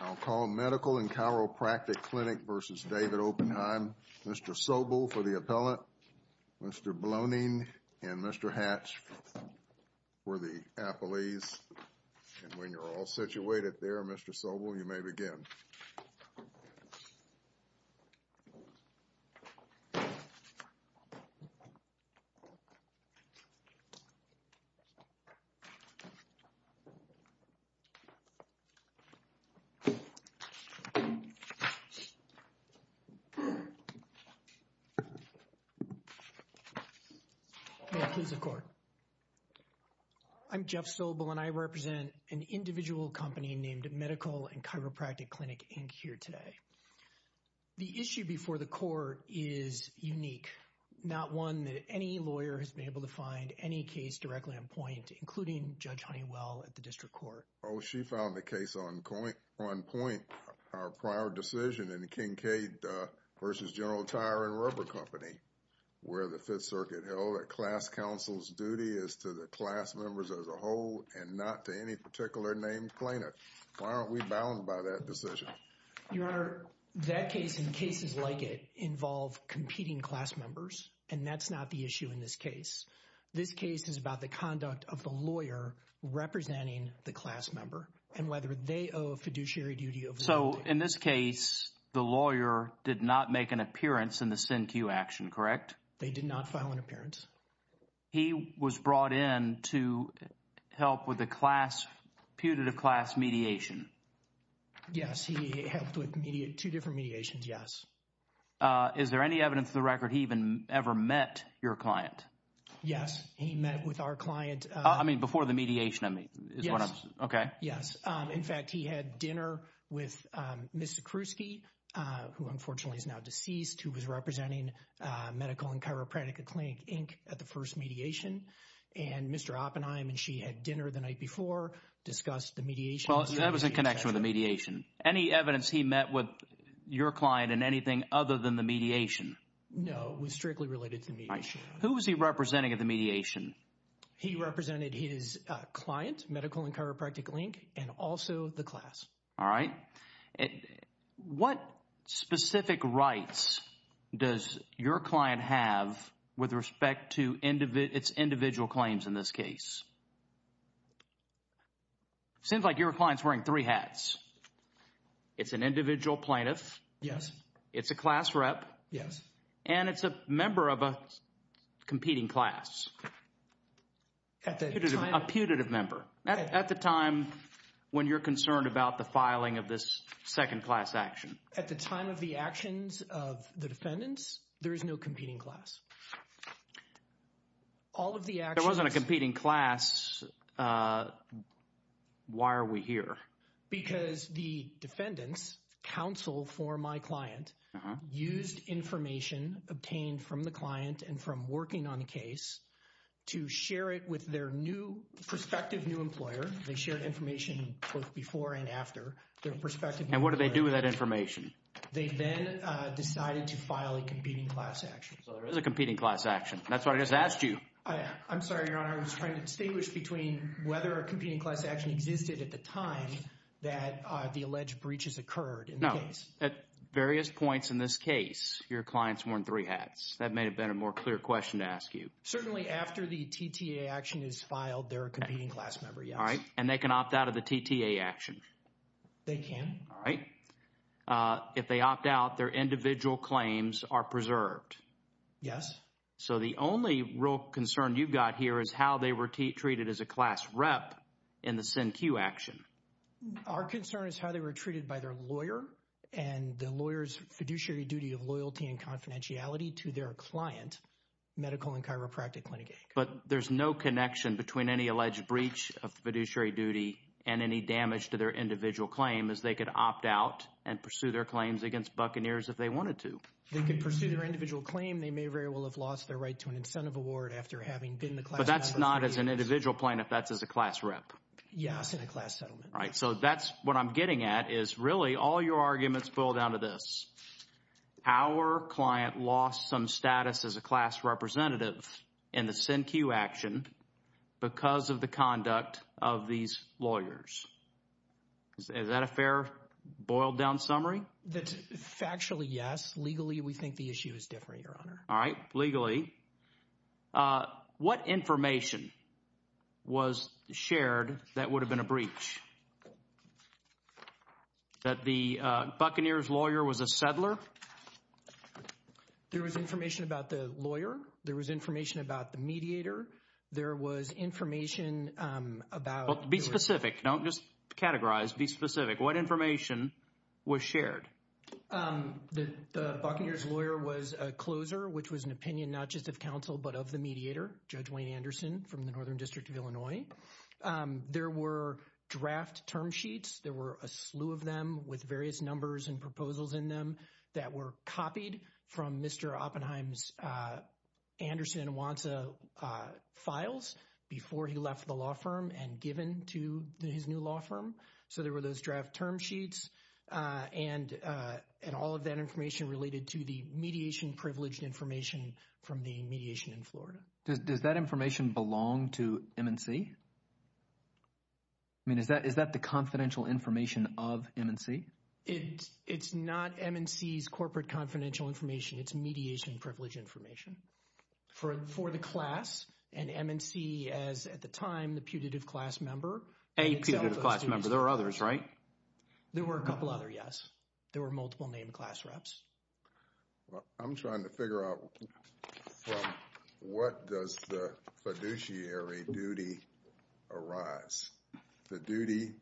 I'll call Medical & Chiropractic Clinic v. David Oppenheim. Mr. Sobel for the appellant, Mr. Bloning and Mr. Hatch for the appellees, and when you're all situated there, Mr. Sobel, you may begin. Jeff Sobel I'm Jeff Sobel, and I represent an individual company named Medical & Chiropractic Clinic, Inc., here today. The issue before the court is unique, not one that any lawyer has been able to find any case directly on point, including Judge Honeywell at the District Court. Judge Honeywell Oh, she filed the case on point, our prior decision in the Kincade v. General Tire & Rubber Company, where the Fifth Circuit held that class counsel's duty is to the class members as a whole and not to any particular named clinic. Why aren't we bound by that decision? Jeff Sobel Your Honor, that case and cases like it involve competing class members, and that's not the issue in this case. This case is about the conduct of the lawyer representing the class member and whether they owe a fiduciary duty of loyalty. Jeff Sobel So, in this case, the lawyer did not make an appearance in the SIN Q action, correct? Jeff Sobel They did not file an appearance. Jeff Sobel He was brought in to help with the class mediation. Jeff Sobel Yes, he helped with two different mediations, yes. Jeff Sobel Is there any evidence of the record he ever met your client? Jeff Sobel Yes, he met with our client. Jeff Sobel I mean, before the mediation, I mean. Jeff Sobel Yes. Jeff Sobel Okay. Jeff Sobel Yes. In fact, he had dinner with Ms. Zakruski, who unfortunately is now deceased, who was representing Medical and Chiropractic Clinic, Inc., at the first mediation. And Mr. Oppenheim and she had dinner the night before, discussed the mediation. Jeff Sobel Well, that was in connection with the mediation. Any evidence he met with your client in anything other than the mediation? Jeff Sobel No, it was strictly related to the mediation. Jeff Sobel All right. Who was he representing at the mediation? Jeff Sobel He represented his client, Medical and Chiropractic Clinic, and also the class. Jeff Sobel All right. What specific rights does your client have with respect to its individual claims in this case? It seems like your client's wearing three hats. It's an individual plaintiff. Jeff Sobel Yes. Jeff Sobel It's a class rep. Jeff Sobel Yes. Jeff Sobel And it's a member of a competing class. Jeff Sobel A putative member. At the time when you're concerned about the filing of this second class action. Jeff Sobel At the time of the actions of the defendants, there is no competing class. All of the actions... Jeff Sobel There wasn't a competing class. Why are we here? Jeff Sobel Because the defendants, counsel for my client, used information obtained from the client and from working on the case to share it with their new prospective new employer. They shared information both before and after their prospective new employer. Jeff Sobel And what did they do with that information? Jeff Sobel They then decided to file a competing class action. Jeff Sobel So there is a competing class action. That's what I just asked you. Jeff Sobel I'm sorry, Your Honor. I was trying to distinguish between whether a competing class action existed at the time that the alleged breaches occurred in the case. Jeff Sobel No. At various points in this case, your client's wearing three hats. That may have been a more clear question to ask you. Jeff Sobel Certainly after the TTA action is filed, they're a competing class member. Yes. Jeff Sobel All right. And they can opt out of the TTA action. Jeff Sobel They can. Jeff Sobel All right. Jeff Sobel If they opt out, their individual claims are preserved. Jeff Sobel Yes. Jeff Sobel So the only real concern you've got here is how they were treated as a class rep in the SIN Q action. Jeff Sobel Our concern is how they were treated by their lawyer and the lawyer's fiduciary duty of loyalty and confidentiality to their client, medical and chiropractic clinic. Jeff Sobel But there's no connection between any alleged breach of fiduciary duty and any damage to their individual claim as they could opt out and pursue their claims against Buccaneers if they wanted to. Jeff Sobel They could pursue their individual claim. They may very well have lost their right to an incentive award after having been the class representative. Jeff Sobel But that's not as an individual plaintiff. That's as a class rep. Jeff Sobel Yes, in a class settlement. Jeff Sobel All right. So that's what I'm getting at is really all your arguments boil down to this. Our client lost some status as a class representative in the SIN Q action because of the conduct of these lawyers. Is that a fair boiled down summary? Jeff Sobel Factually, yes. Legally, we think the issue is different, Your Honor. Jeff Sobel All right. What information was shared that would have been a breach? That the Buccaneers lawyer was a settler? Jeff Sobel There was information about the lawyer. There was information about the mediator. There was information about… Jeff Sobel Be specific. Don't just categorize. Be specific. What information was shared? Jeff Sobel The Buccaneers lawyer was a closer, which was an opinion not just of counsel but of the mediator, Judge Wayne Anderson from the Northern District of Illinois. There were draft term sheets. There were a slew of them with various numbers and proposals in them that were copied from Mr. Oppenheim's Anderson and Wansa files before he left the law firm and given to his new law firm. So there were those draft term sheets and all of that information related to the mediation privileged information from the mediation in Florida. Does that information belong to MNC? I mean, is that the confidential information of MNC? Jeff Sobel It's not MNC's corporate confidential information. It's mediation privileged information for the class and MNC as, at the time, the putative class member. Jeff Sobel A putative class member. There were others, right? Jeff Sobel There were a couple other, yes. There were multiple named class reps. Well, I'm trying to figure out from what does the fiduciary duty arise? The duty,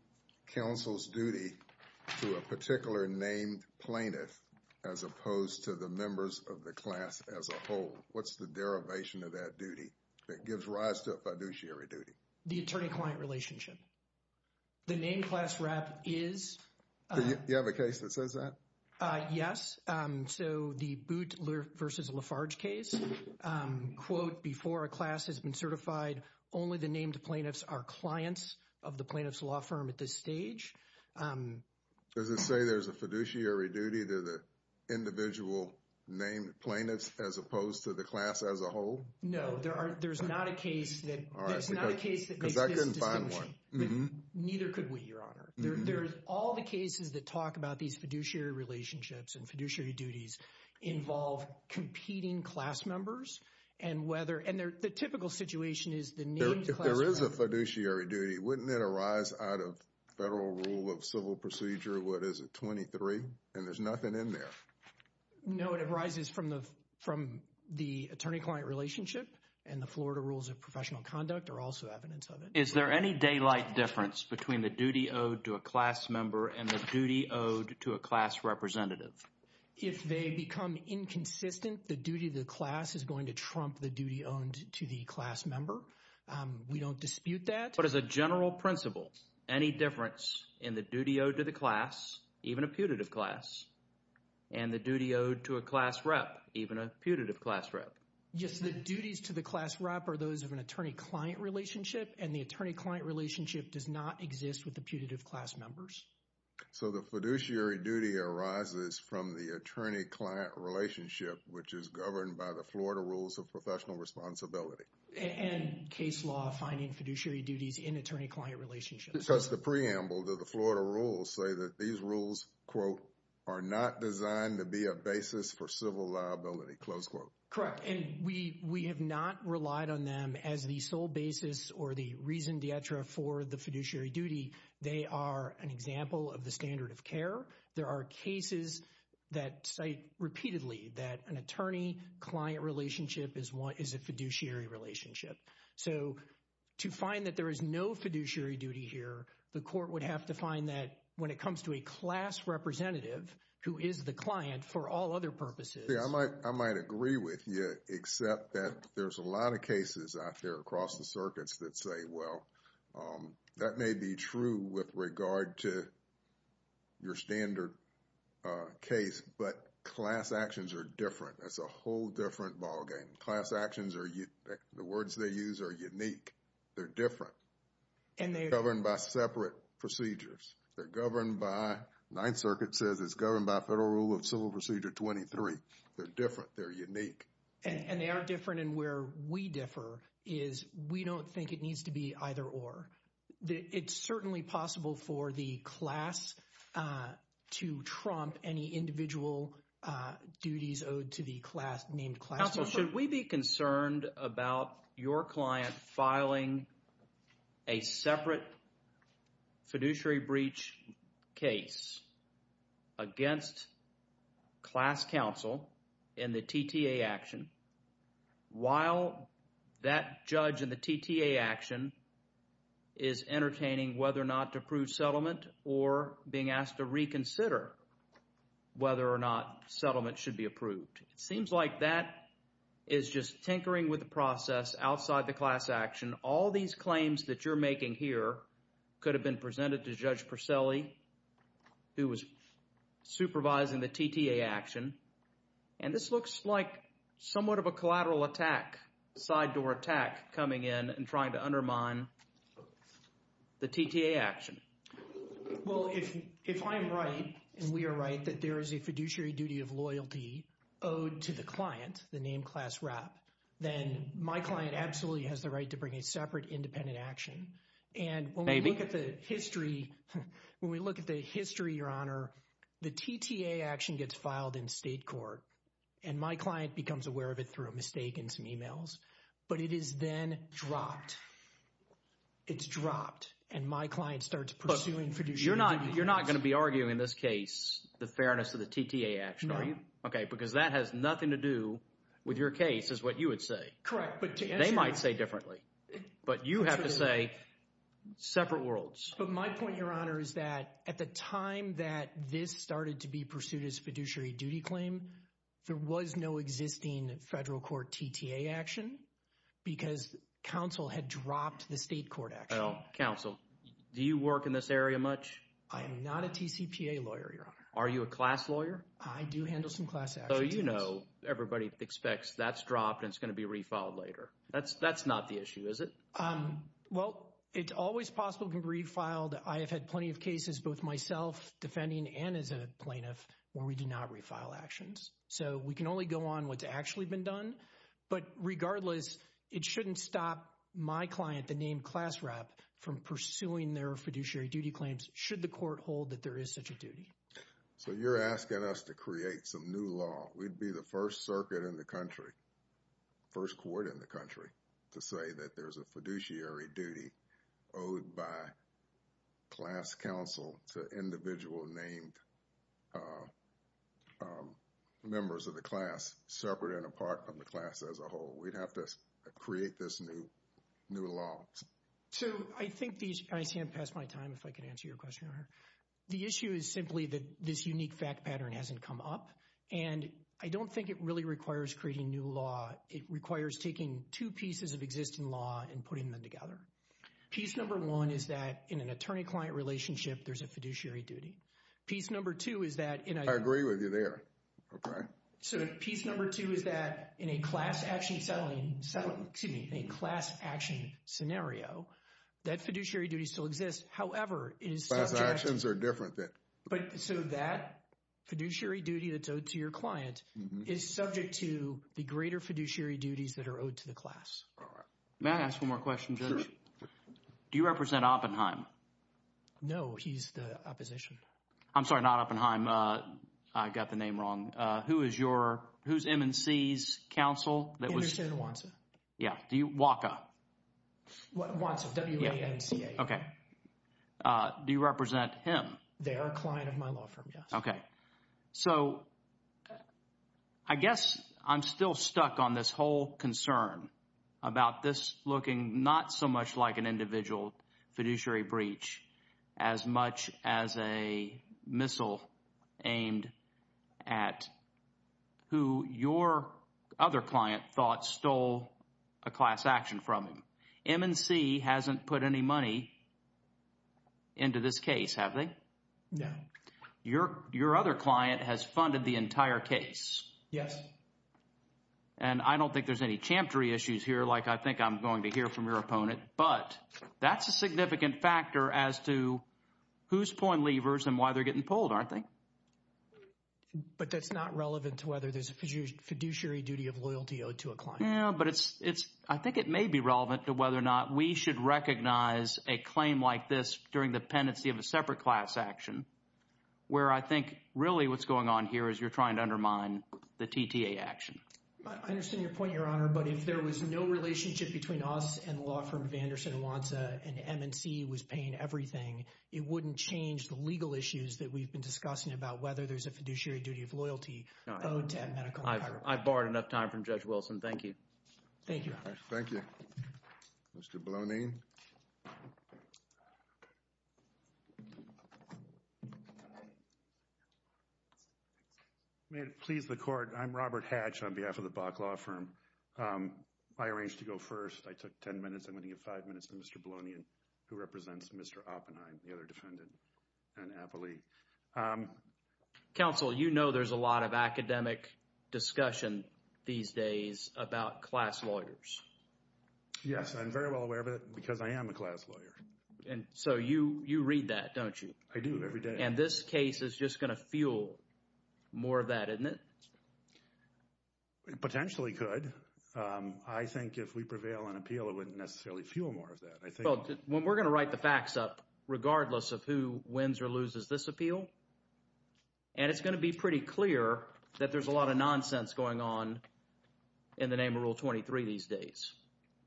counsel's duty, to a particular named plaintiff as opposed to the members of the class as a whole. What's the derivation of that duty that gives rise to a fiduciary duty? Jeff Sobel The attorney-client relationship. The named class rep is... Do you have a case that says that? Yes. So, the Boot versus Lafarge case, quote, before a class has been certified, only the named plaintiffs are clients of the plaintiff's law firm at this stage. Does it say there's a fiduciary duty to the individual named plaintiffs as opposed to the class as a whole? No, there's not a case that makes this distinction. Because I couldn't find one. Neither could we, your honor. There's all the cases that talk about these fiduciary relationships and fiduciary duties involve competing class members and whether... And the typical situation is the named class... If there is a fiduciary duty, wouldn't it arise out of Federal Rule of Civil Procedure, what is it, 23? And there's nothing in there. No, it arises from the attorney-client relationship and the Florida Rules of Professional Conduct are also evidence of it. Is there any daylight difference between the duty owed to a class member and the duty owed to a class representative? If they become inconsistent, the duty of the class is going to trump the duty owed to the class member. We don't dispute that. But as a general principle, any difference in the duty owed to the class, even a putative class, and the duty owed to a class rep, even a putative class rep? Yes, the duties to the class rep are those of an attorney-client relationship and the attorney-client relationship does not exist with the putative class members. So the fiduciary duty arises from the attorney-client relationship, which is governed by the Florida Rules of Professional Responsibility. And case law finding fiduciary duties in attorney-client relationships. Because the preamble to the Florida Rules say that these rules, quote, are not designed to be a basis for civil liability, close quote. Correct. And we have not relied on them as the sole basis or the reason dietra for the fiduciary duty. They are an example of the standard of care. There are cases that cite repeatedly that an attorney-client relationship is a fiduciary relationship. So to find that there is no fiduciary duty here, the court would have to find that when it comes to a class representative, who is the client for all other purposes. I might agree with you, except that there's a lot of cases out there across the circuits that say, well, that may be true with regard to your standard case, but class actions are different. That's a whole different ballgame. Class actions are, the words they use are unique. They're different. And they're governed by separate procedures. They're governed by, Ninth Circuit says it's governed by Federal Rule of Civil Procedure 23. They're different. They're unique. And they are different. And where we differ is we don't think it needs to be either or. It's certainly possible for the class to trump any individual duties owed to the class, named class. Counsel, should we be concerned about your client filing a separate fiduciary breach case against class counsel in the TTA action while that judge in the TTA action is entertaining whether or not to approve settlement or being asked to reconsider whether or not settlement should be approved? It seems like that is just tinkering with the process outside the class action. All these claims that you're making here could have been presented to Judge Percelli, who was supervising the TTA action. And this looks like somewhat of a collateral attack, side door attack coming in and trying to undermine the TTA action. Well, if I am right and we are right that there is a fiduciary duty of loyalty owed to the client, the named class rep, then my client absolutely has the right to bring a separate independent action. And when we look at the history, when we look at the history, Your Honor, the TTA action gets filed in state court. And my client becomes aware of it through a mistake in some emails. But it is then dropped. It's dropped. And my client starts pursuing fiduciary duty. You're not going to be arguing in this case the fairness of the TTA action, are you? No. Okay, because that has nothing to do with your case is what you would say. Correct. They might say differently. But you have to say separate worlds. But my point, Your Honor, is that at the time that this started to be pursued as a fiduciary Well, counsel, do you work in this area much? I am not a TCPA lawyer, Your Honor. Are you a class lawyer? I do handle some class actions. So you know everybody expects that's dropped and it's going to be refiled later. That's not the issue, is it? Well, it's always possible it can be refiled. I have had plenty of cases, both myself defending and as a plaintiff, where we do not refile actions. So we can only go on what's actually been done. But regardless, it shouldn't stop my client, the named class rep, from pursuing their fiduciary duty claims should the court hold that there is such a duty. So you're asking us to create some new law. We'd be the first circuit in the country, first court in the country, to say that there's a fiduciary duty owed by class counsel to individual named members of the class, separate and apart from the class as a whole. We'd have to create this new law. So I think these, I see I've passed my time, if I can answer your question, Your Honor. The issue is simply that this unique fact pattern hasn't come up. And I don't think it really requires creating new law. It requires taking two pieces of existing law and putting them together. Piece number one is that in an attorney-client relationship, there's a fiduciary duty. Piece number two is that in a... I agree with you there. Okay. So piece number two is that in a class action settling, excuse me, a class action scenario, that fiduciary duty still exists. However, it is subject... Class actions are different. But so that fiduciary duty that's owed to your client is subject to the greater fiduciary duties that are owed to the class. All right. May I ask one more question, Judge? Sure. Do you represent Oppenheim? No, he's the opposition. I'm sorry, not Oppenheim. I got the name wrong. Who is your... Who's M&C's counsel that was... Anderson Wansa. Yeah. Do you... Waka. Wansa, W-A-N-C-A. Okay. Do you represent him? They are a client of my law firm, yes. Okay. So I guess I'm still stuck on this whole concern about this looking not so much like an individual fiduciary breach as much as a missile aimed at who your other client thought stole a class action from him. M&C hasn't put any money into this case, have they? No. Okay. Your other client has funded the entire case. Yes. And I don't think there's any champery issues here like I think I'm going to hear from your opponent. But that's a significant factor as to whose point levers and why they're getting pulled, aren't they? But that's not relevant to whether there's a fiduciary duty of loyalty owed to a client. Yeah, but it's – I think it may be relevant to whether or not we should recognize a claim like this during the pendency of a separate class action where I think really what's going on here is you're trying to undermine the TTA action. I understand your point, Your Honor, but if there was no relationship between us and the law firm of Anderson Wansa and M&C was paying everything, it wouldn't change the legal issues that we've been discussing about whether there's a fiduciary duty of loyalty owed to a medical employer. I've borrowed enough time from Judge Wilson. Thank you. Thank you, Your Honor. Thank you. Mr. Blonien. May it please the Court, I'm Robert Hatch on behalf of the Bok Law Firm. I arranged to go first. I took 10 minutes. I'm going to give five minutes to Mr. Blonien who represents Mr. Oppenheim, the other defendant, and Apolli. Counsel, you know there's a lot of academic discussion these days about class lawyers. Yes, I'm very well aware of it because I am a class lawyer. And so you read that, don't you? I do every day. And this case is just going to fuel more of that, isn't it? It potentially could. I think if we prevail on appeal, it wouldn't necessarily fuel more of that. Well, we're going to write the facts up regardless of who wins or loses this appeal. And it's going to be pretty clear that there's a lot of nonsense going on in the name of Rule 23 these days.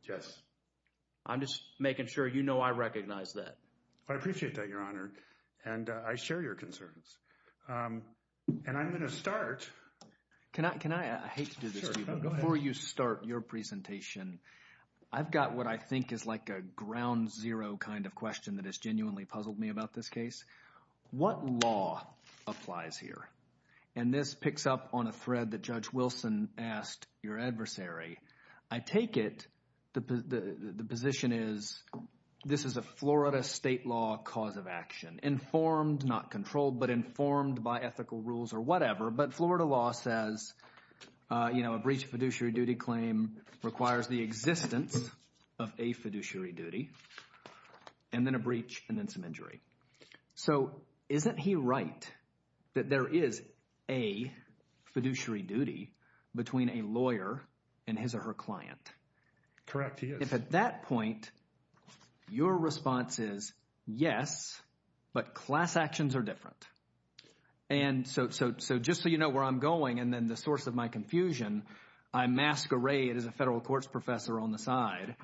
Yes. I'm just making sure you know I recognize that. I appreciate that, Your Honor. And I share your concerns. And I'm going to start. Can I? I hate to do this to you. Go ahead. Before you start your presentation, I've got what I think is like a ground zero kind of question that has genuinely puzzled me about this case. What law applies here? And this picks up on a thread that Judge Wilson asked your adversary. I take it the position is this is a Florida state law cause of action, informed, not controlled, but informed by ethical rules or whatever. But Florida law says a breach of fiduciary duty claim requires the existence of a fiduciary duty and then a breach and then some injury. So isn't he right that there is a fiduciary duty between a lawyer and his or her client? Correct, he is. If at that point your response is yes, but class actions are different. And so just so you know where I'm going and then the source of my confusion, I masquerade as a federal courts professor on the side.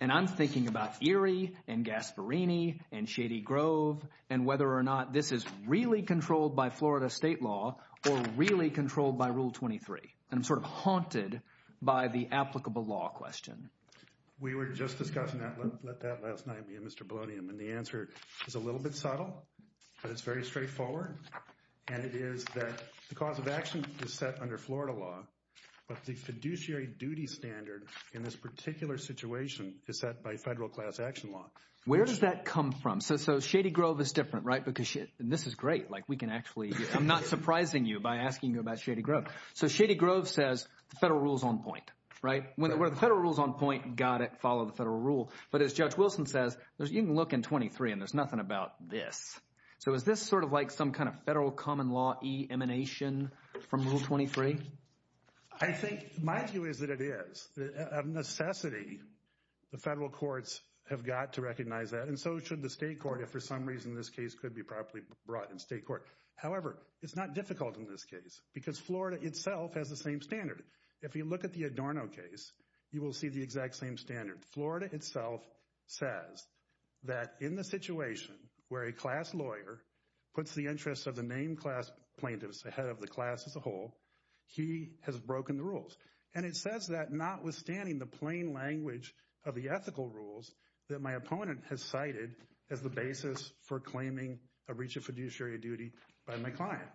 And I'm thinking about Erie and Gasparini and Shady Grove and whether or not this is really controlled by Florida state law or really controlled by Rule 23. I'm sort of haunted by the applicable law question. We were just discussing that. Let that last night be a Mr. Bologna. And the answer is a little bit subtle, but it's very straightforward. And it is that the cause of action is set under Florida law. But the fiduciary duty standard in this particular situation is set by federal class action law. Where does that come from? So Shady Grove is different, right? Because this is great. Like we can actually I'm not surprising you by asking you about Shady Grove. So Shady Grove says the federal rules on point. Right. When the federal rules on point, got it. Follow the federal rule. But as Judge Wilson says, you can look in 23 and there's nothing about this. So is this sort of like some kind of federal common law emanation from Rule 23? I think my view is that it is a necessity. The federal courts have got to recognize that. And so should the state court, if for some reason this case could be properly brought in state court. However, it's not difficult in this case because Florida itself has the same standard. If you look at the Adorno case, you will see the exact same standard. Florida itself says that in the situation where a class lawyer puts the interests of the named class plaintiffs ahead of the class as a whole, he has broken the rules. And it says that notwithstanding the plain language of the ethical rules that my opponent has cited as the basis for claiming a breach of fiduciary duty by my client.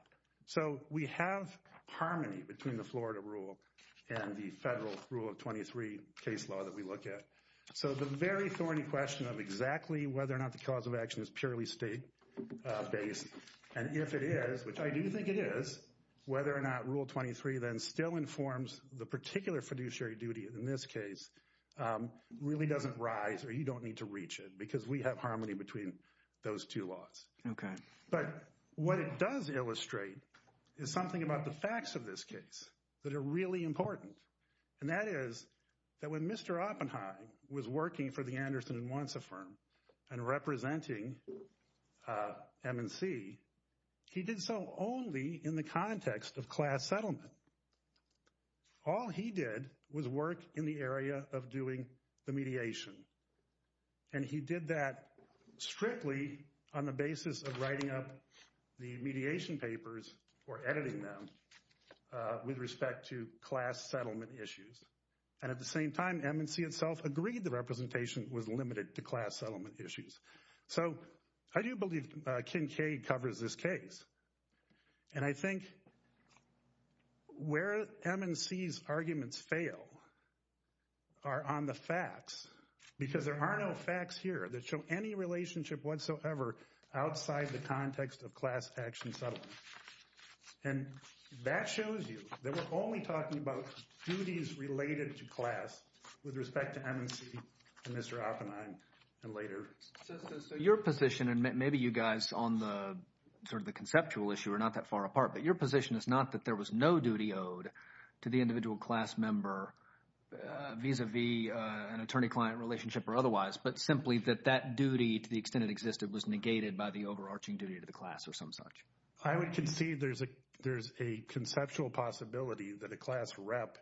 So we have harmony between the Florida rule and the federal rule of 23 case law that we look at. So the very thorny question of exactly whether or not the cause of action is purely state based. And if it is, which I do think it is, whether or not Rule 23 then still informs the particular fiduciary duty in this case really doesn't rise or you don't need to reach it because we have harmony between those two laws. OK, but what it does illustrate is something about the facts of this case that are really important. And that is that when Mr. Oppenheim was working for the Anderson and Wanza firm and representing MNC, he did so only in the context of class settlement. All he did was work in the area of doing the mediation. And he did that strictly on the basis of writing up the mediation papers or editing them with respect to class settlement issues. And at the same time, MNC itself agreed the representation was limited to class settlement issues. So I do believe Kincaid covers this case. And I think where MNC's arguments fail are on the facts because there are no facts here that show any relationship whatsoever outside the context of class action settlement. And that shows you that we're only talking about duties related to class with respect to MNC and Mr. Oppenheim and later. So your position, and maybe you guys on the sort of the conceptual issue are not that far apart, but your position is not that there was no duty owed to the individual class member vis-à-vis an attorney-client relationship or otherwise, but simply that that duty to the extent it existed was negated by the overarching duty to the class or some such. I would concede there's a conceptual possibility that a class rep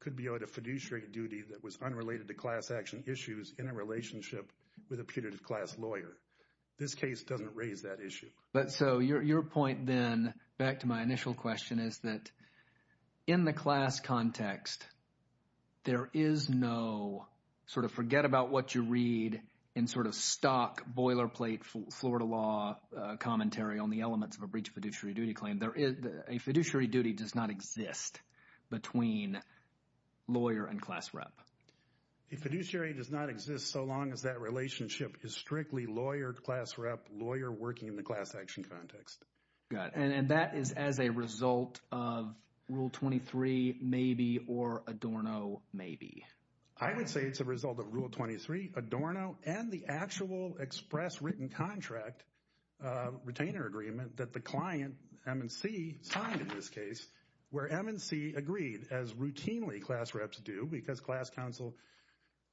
could be owed a fiduciary duty that was unrelated to class action issues in a relationship with a putative class lawyer. This case doesn't raise that issue. But so your point then, back to my initial question, is that in the class context, there is no sort of forget-about-what-you-read and sort of stock boilerplate Florida law commentary on the elements of a breach of fiduciary duty claim. A fiduciary duty does not exist between lawyer and class rep. A fiduciary does not exist so long as that relationship is strictly lawyer-class rep, lawyer working in the class action context. Got it. And that is as a result of Rule 23, maybe, or Adorno, maybe. I would say it's a result of Rule 23, Adorno, and the actual express written contract retainer agreement that the client, M&C, signed in this case, where M&C agreed, as routinely class reps do, because class counsel,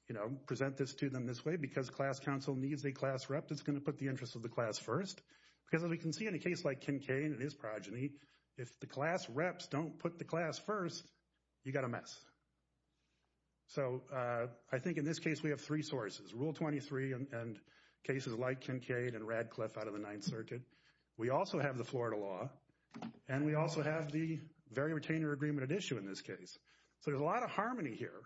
you know, present this to them this way, because class counsel needs a class rep that's going to put the interest of the class first. Because as we can see in a case like Kincaid and his progeny, if the class reps don't put the class first, you've got a mess. So I think in this case we have three sources, Rule 23 and cases like Kincaid and Radcliffe out of the Ninth Circuit. We also have the Florida law, and we also have the very retainer agreement at issue in this case. So there's a lot of harmony here,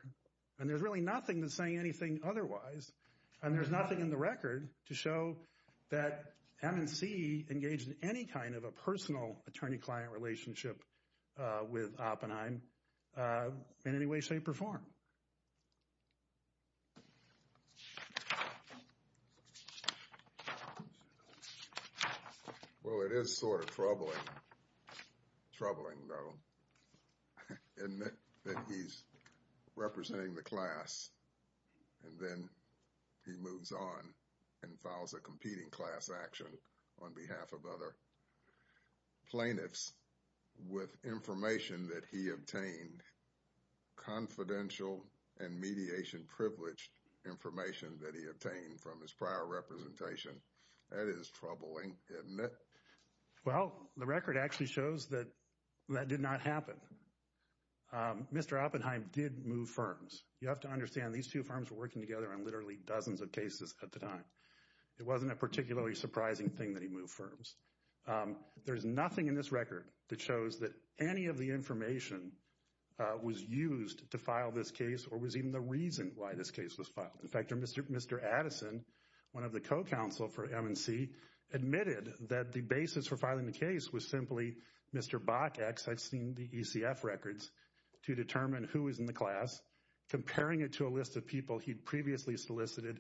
and there's really nothing that's saying anything otherwise, and there's nothing in the record to show that M&C engaged in any kind of a personal attorney-client relationship with Oppenheim in any way, shape, or form. Well, it is sort of troubling, troubling though, in that he's representing the class, and then he moves on and files a competing class action on behalf of other plaintiffs with information that he obtained, confidential and mediation-privileged information that he obtained from his prior representation. That is troubling, isn't it? Well, the record actually shows that that did not happen. Mr. Oppenheim did move firms. You have to understand these two firms were working together on literally dozens of cases at the time. It wasn't a particularly surprising thing that he moved firms. There's nothing in this record that shows that any of the information was used to file this case or was even the reason why this case was filed. In fact, Mr. Addison, one of the co-counsel for M&C, admitted that the basis for filing the case was simply Mr. Bock, as I've seen the ECF records, to determine who was in the class, comparing it to a list of people he'd previously solicited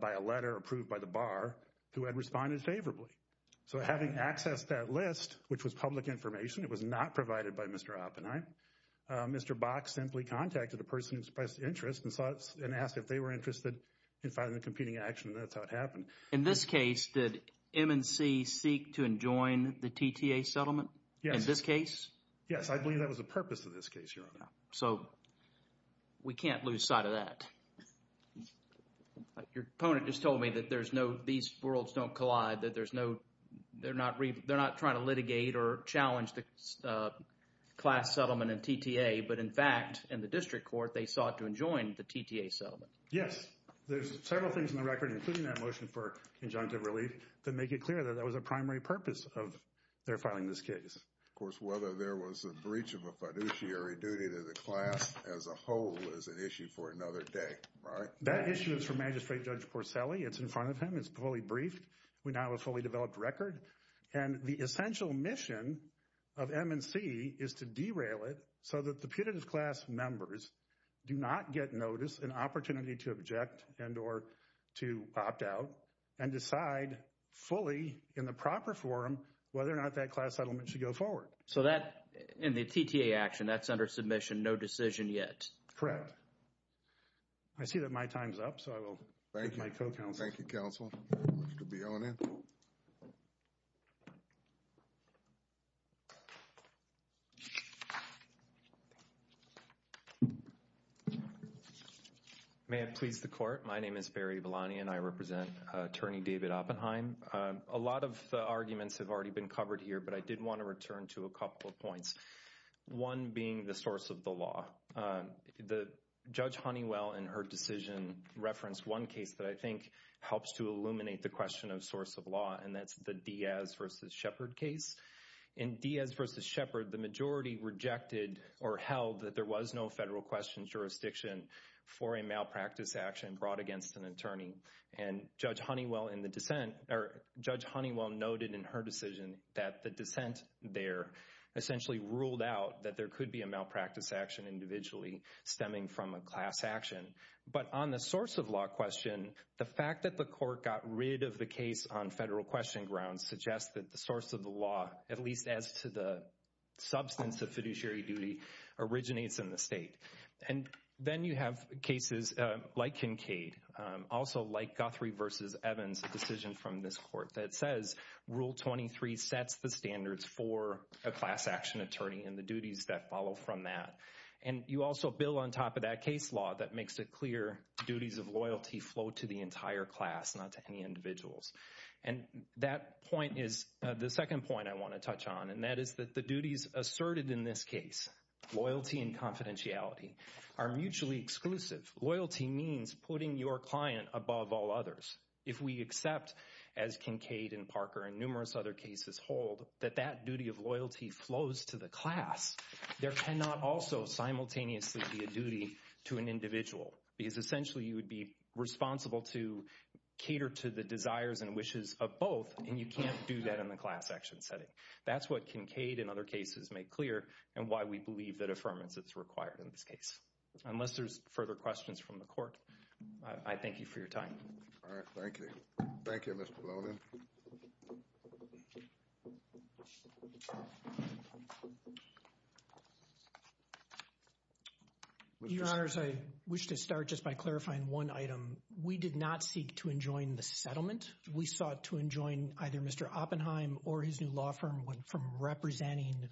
by a letter approved by the bar who had responded favorably. So having accessed that list, which was public information, it was not provided by Mr. Oppenheim, Mr. Bock simply contacted the person who expressed interest and asked if they were interested in filing a competing action, and that's how it happened. In this case, did M&C seek to enjoin the TTA settlement? Yes. In this case? Yes, I believe that was the purpose of this case, Your Honor. So we can't lose sight of that. Your opponent just told me that there's no, these worlds don't collide, that there's no, they're not trying to litigate or challenge the class settlement and TTA, but in fact, in the district court, they sought to enjoin the TTA settlement. Yes. There's several things in the record, including that motion for injunctive relief, that make it clear that that was the primary purpose of their filing this case. Of course, whether there was a breach of a fiduciary duty to the class as a whole is an issue for another day, right? That issue is for Magistrate Judge Porcelli. It's in front of him. It's fully briefed. We now have a fully developed record. And the essential mission of M&C is to derail it so that the putative class members do not get notice and opportunity to object and or to opt out and decide fully in the proper forum whether or not that class settlement should go forward. So that, in the TTA action, that's under submission, no decision yet. Correct. I see that my time's up, so I will take my co-counsel. Thank you, counsel. Mr. Bielanen. May it please the court. My name is Barry Bielanen, and I represent Attorney David Oppenheim. A lot of the arguments have already been covered here, but I did want to return to a couple of points, one being the source of the law. Judge Honeywell, in her decision, referenced one case that I think helps to illuminate the question of source of law, and that's the Diaz v. Shepard case. In Diaz v. Shepard, the majority rejected or held that there was no federal question jurisdiction for a malpractice action brought against an attorney. Judge Honeywell noted in her decision that the dissent there essentially ruled out that there could be a malpractice action individually stemming from a class action. But on the source of law question, the fact that the court got rid of the case on federal question grounds suggests that the source of the law, at least as to the substance of fiduciary duty, originates in the state. And then you have cases like Kincaid, also like Guthrie v. Evans, a decision from this court that says Rule 23 sets the standards for a class action attorney and the duties that follow from that. And you also build on top of that case law that makes it clear duties of loyalty flow to the entire class, not to any individuals. And that point is the second point I want to touch on, and that is that the duties asserted in this case, loyalty and confidentiality, are mutually exclusive. Loyalty means putting your client above all others. If we accept, as Kincaid and Parker and numerous other cases hold, that that duty of loyalty flows to the class, there cannot also simultaneously be a duty to an individual. Because essentially you would be responsible to cater to the desires and wishes of both, and you can't do that in the class action setting. That's what Kincaid and other cases make clear, and why we believe that affirmance is required in this case. Unless there's further questions from the court, I thank you for your time. All right, thank you. Thank you, Mr. Blonin. Your Honors, I wish to start just by clarifying one item. We did not seek to enjoin the settlement. We sought to enjoin either Mr. Oppenheim or his new law firm from representing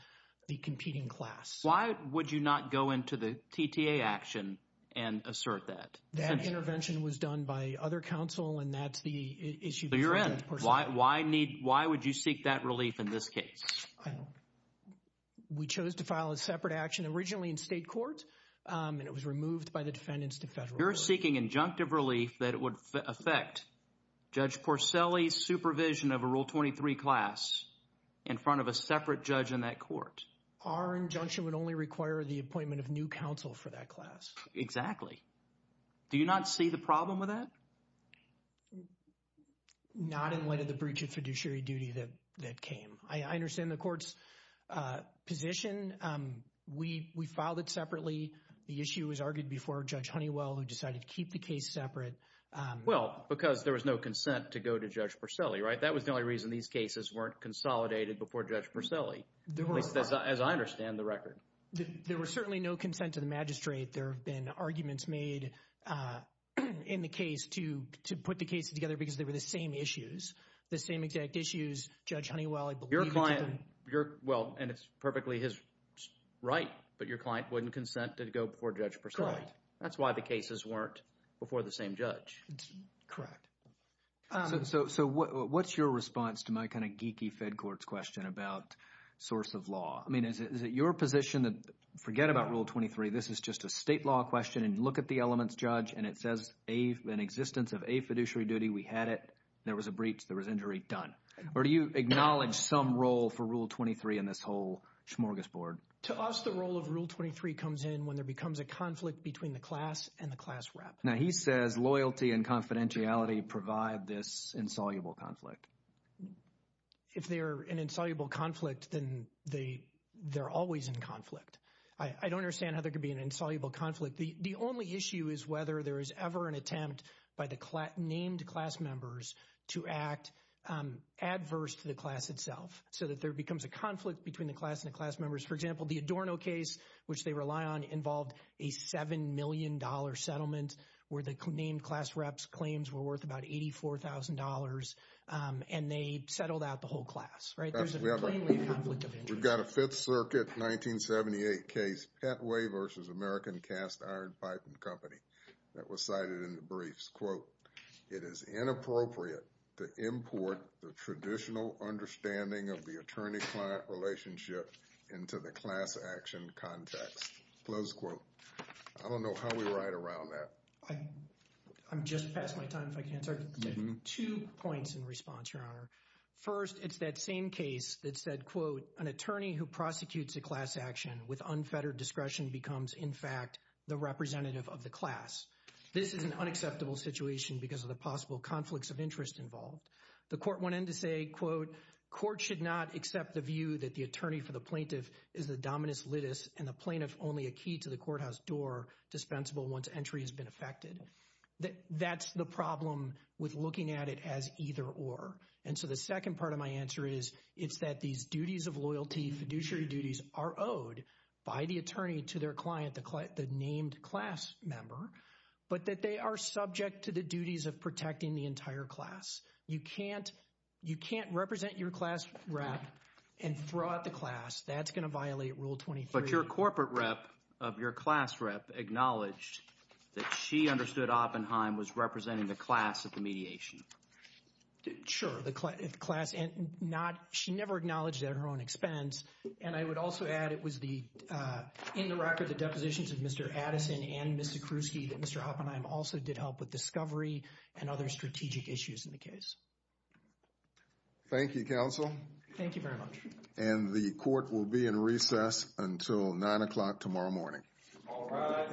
the competing class. Why would you not go into the TTA action and assert that? That intervention was done by other counsel, and that's the issue. So you're in. Why would you seek that relief in this case? We chose to file a separate action originally in state court, and it was removed by the defendants to federal court. You're seeking injunctive relief that it would affect Judge Porcelli's supervision of a Rule 23 class in front of a separate judge in that court. Our injunction would only require the appointment of new counsel for that class. Exactly. Do you not see the problem with that? Not in light of the breach of fiduciary duty that came. I understand the court's position. We filed it separately. The issue was argued before Judge Honeywell, who decided to keep the case separate. Well, because there was no consent to go to Judge Porcelli, right? That was the only reason these cases weren't consolidated before Judge Porcelli, at least as I understand the record. There was certainly no consent to the magistrate. There have been arguments made in the case to put the cases together because they were the same issues, the same exact issues. Judge Honeywell, I believe— Your client—well, and it's perfectly his right, but your client wouldn't consent to go before Judge Porcelli. That's why the cases weren't before the same judge. Correct. So what's your response to my kind of geeky fed court's question about source of law? I mean, is it your position to forget about Rule 23? This is just a state law question and look at the elements, Judge, and it says an existence of a fiduciary duty. We had it. There was a breach. There was injury. Done. Or do you acknowledge some role for Rule 23 in this whole smorgasbord? To us, the role of Rule 23 comes in when there becomes a conflict between the class and the class rep. Now, he says loyalty and confidentiality provide this insoluble conflict. If they're an insoluble conflict, then they're always in conflict. I don't understand how there could be an insoluble conflict. The only issue is whether there is ever an attempt by the named class members to act adverse to the class itself so that there becomes a conflict between the class and the class members. For example, the Adorno case, which they rely on, involved a $7 million settlement where the named class rep's claims were worth about $84,000, and they settled out the whole class. Right? There's a plainly conflict of interest. We've got a Fifth Circuit 1978 case, Petway v. American Cast Iron Pipe & Company, that was cited in the briefs. Quote, it is inappropriate to import the traditional understanding of the attorney-client relationship into the class action context. Close quote. I don't know how we ride around that. I'm just past my time, if I can answer. I have two points in response, Your Honor. First, it's that same case that said, quote, an attorney who prosecutes a class action with unfettered discretion becomes, in fact, the representative of the class. This is an unacceptable situation because of the possible conflicts of interest involved. The court went in to say, quote, court should not accept the view that the attorney for the plaintiff is the dominus litis, and the plaintiff only a key to the courthouse door dispensable once entry has been effected. That's the problem with looking at it as either or. And so the second part of my answer is, it's that these duties of loyalty, fiduciary duties, are owed by the attorney to their client, the named class member, but that they are subject to the duties of protecting the entire class. You can't represent your class rep and throw out the class. That's going to violate Rule 23. But your corporate rep of your class rep acknowledged that she understood Oppenheim was representing the class at the mediation. Sure, the class. And I would also add it was the in the record, the depositions of Mr. Addison and Mr. Kruski, that Mr. Oppenheim also did help with discovery and other strategic issues in the case. Thank you, counsel. Thank you very much. And the court will be in recess until nine o'clock tomorrow morning. All rise. Thank you. Thank you.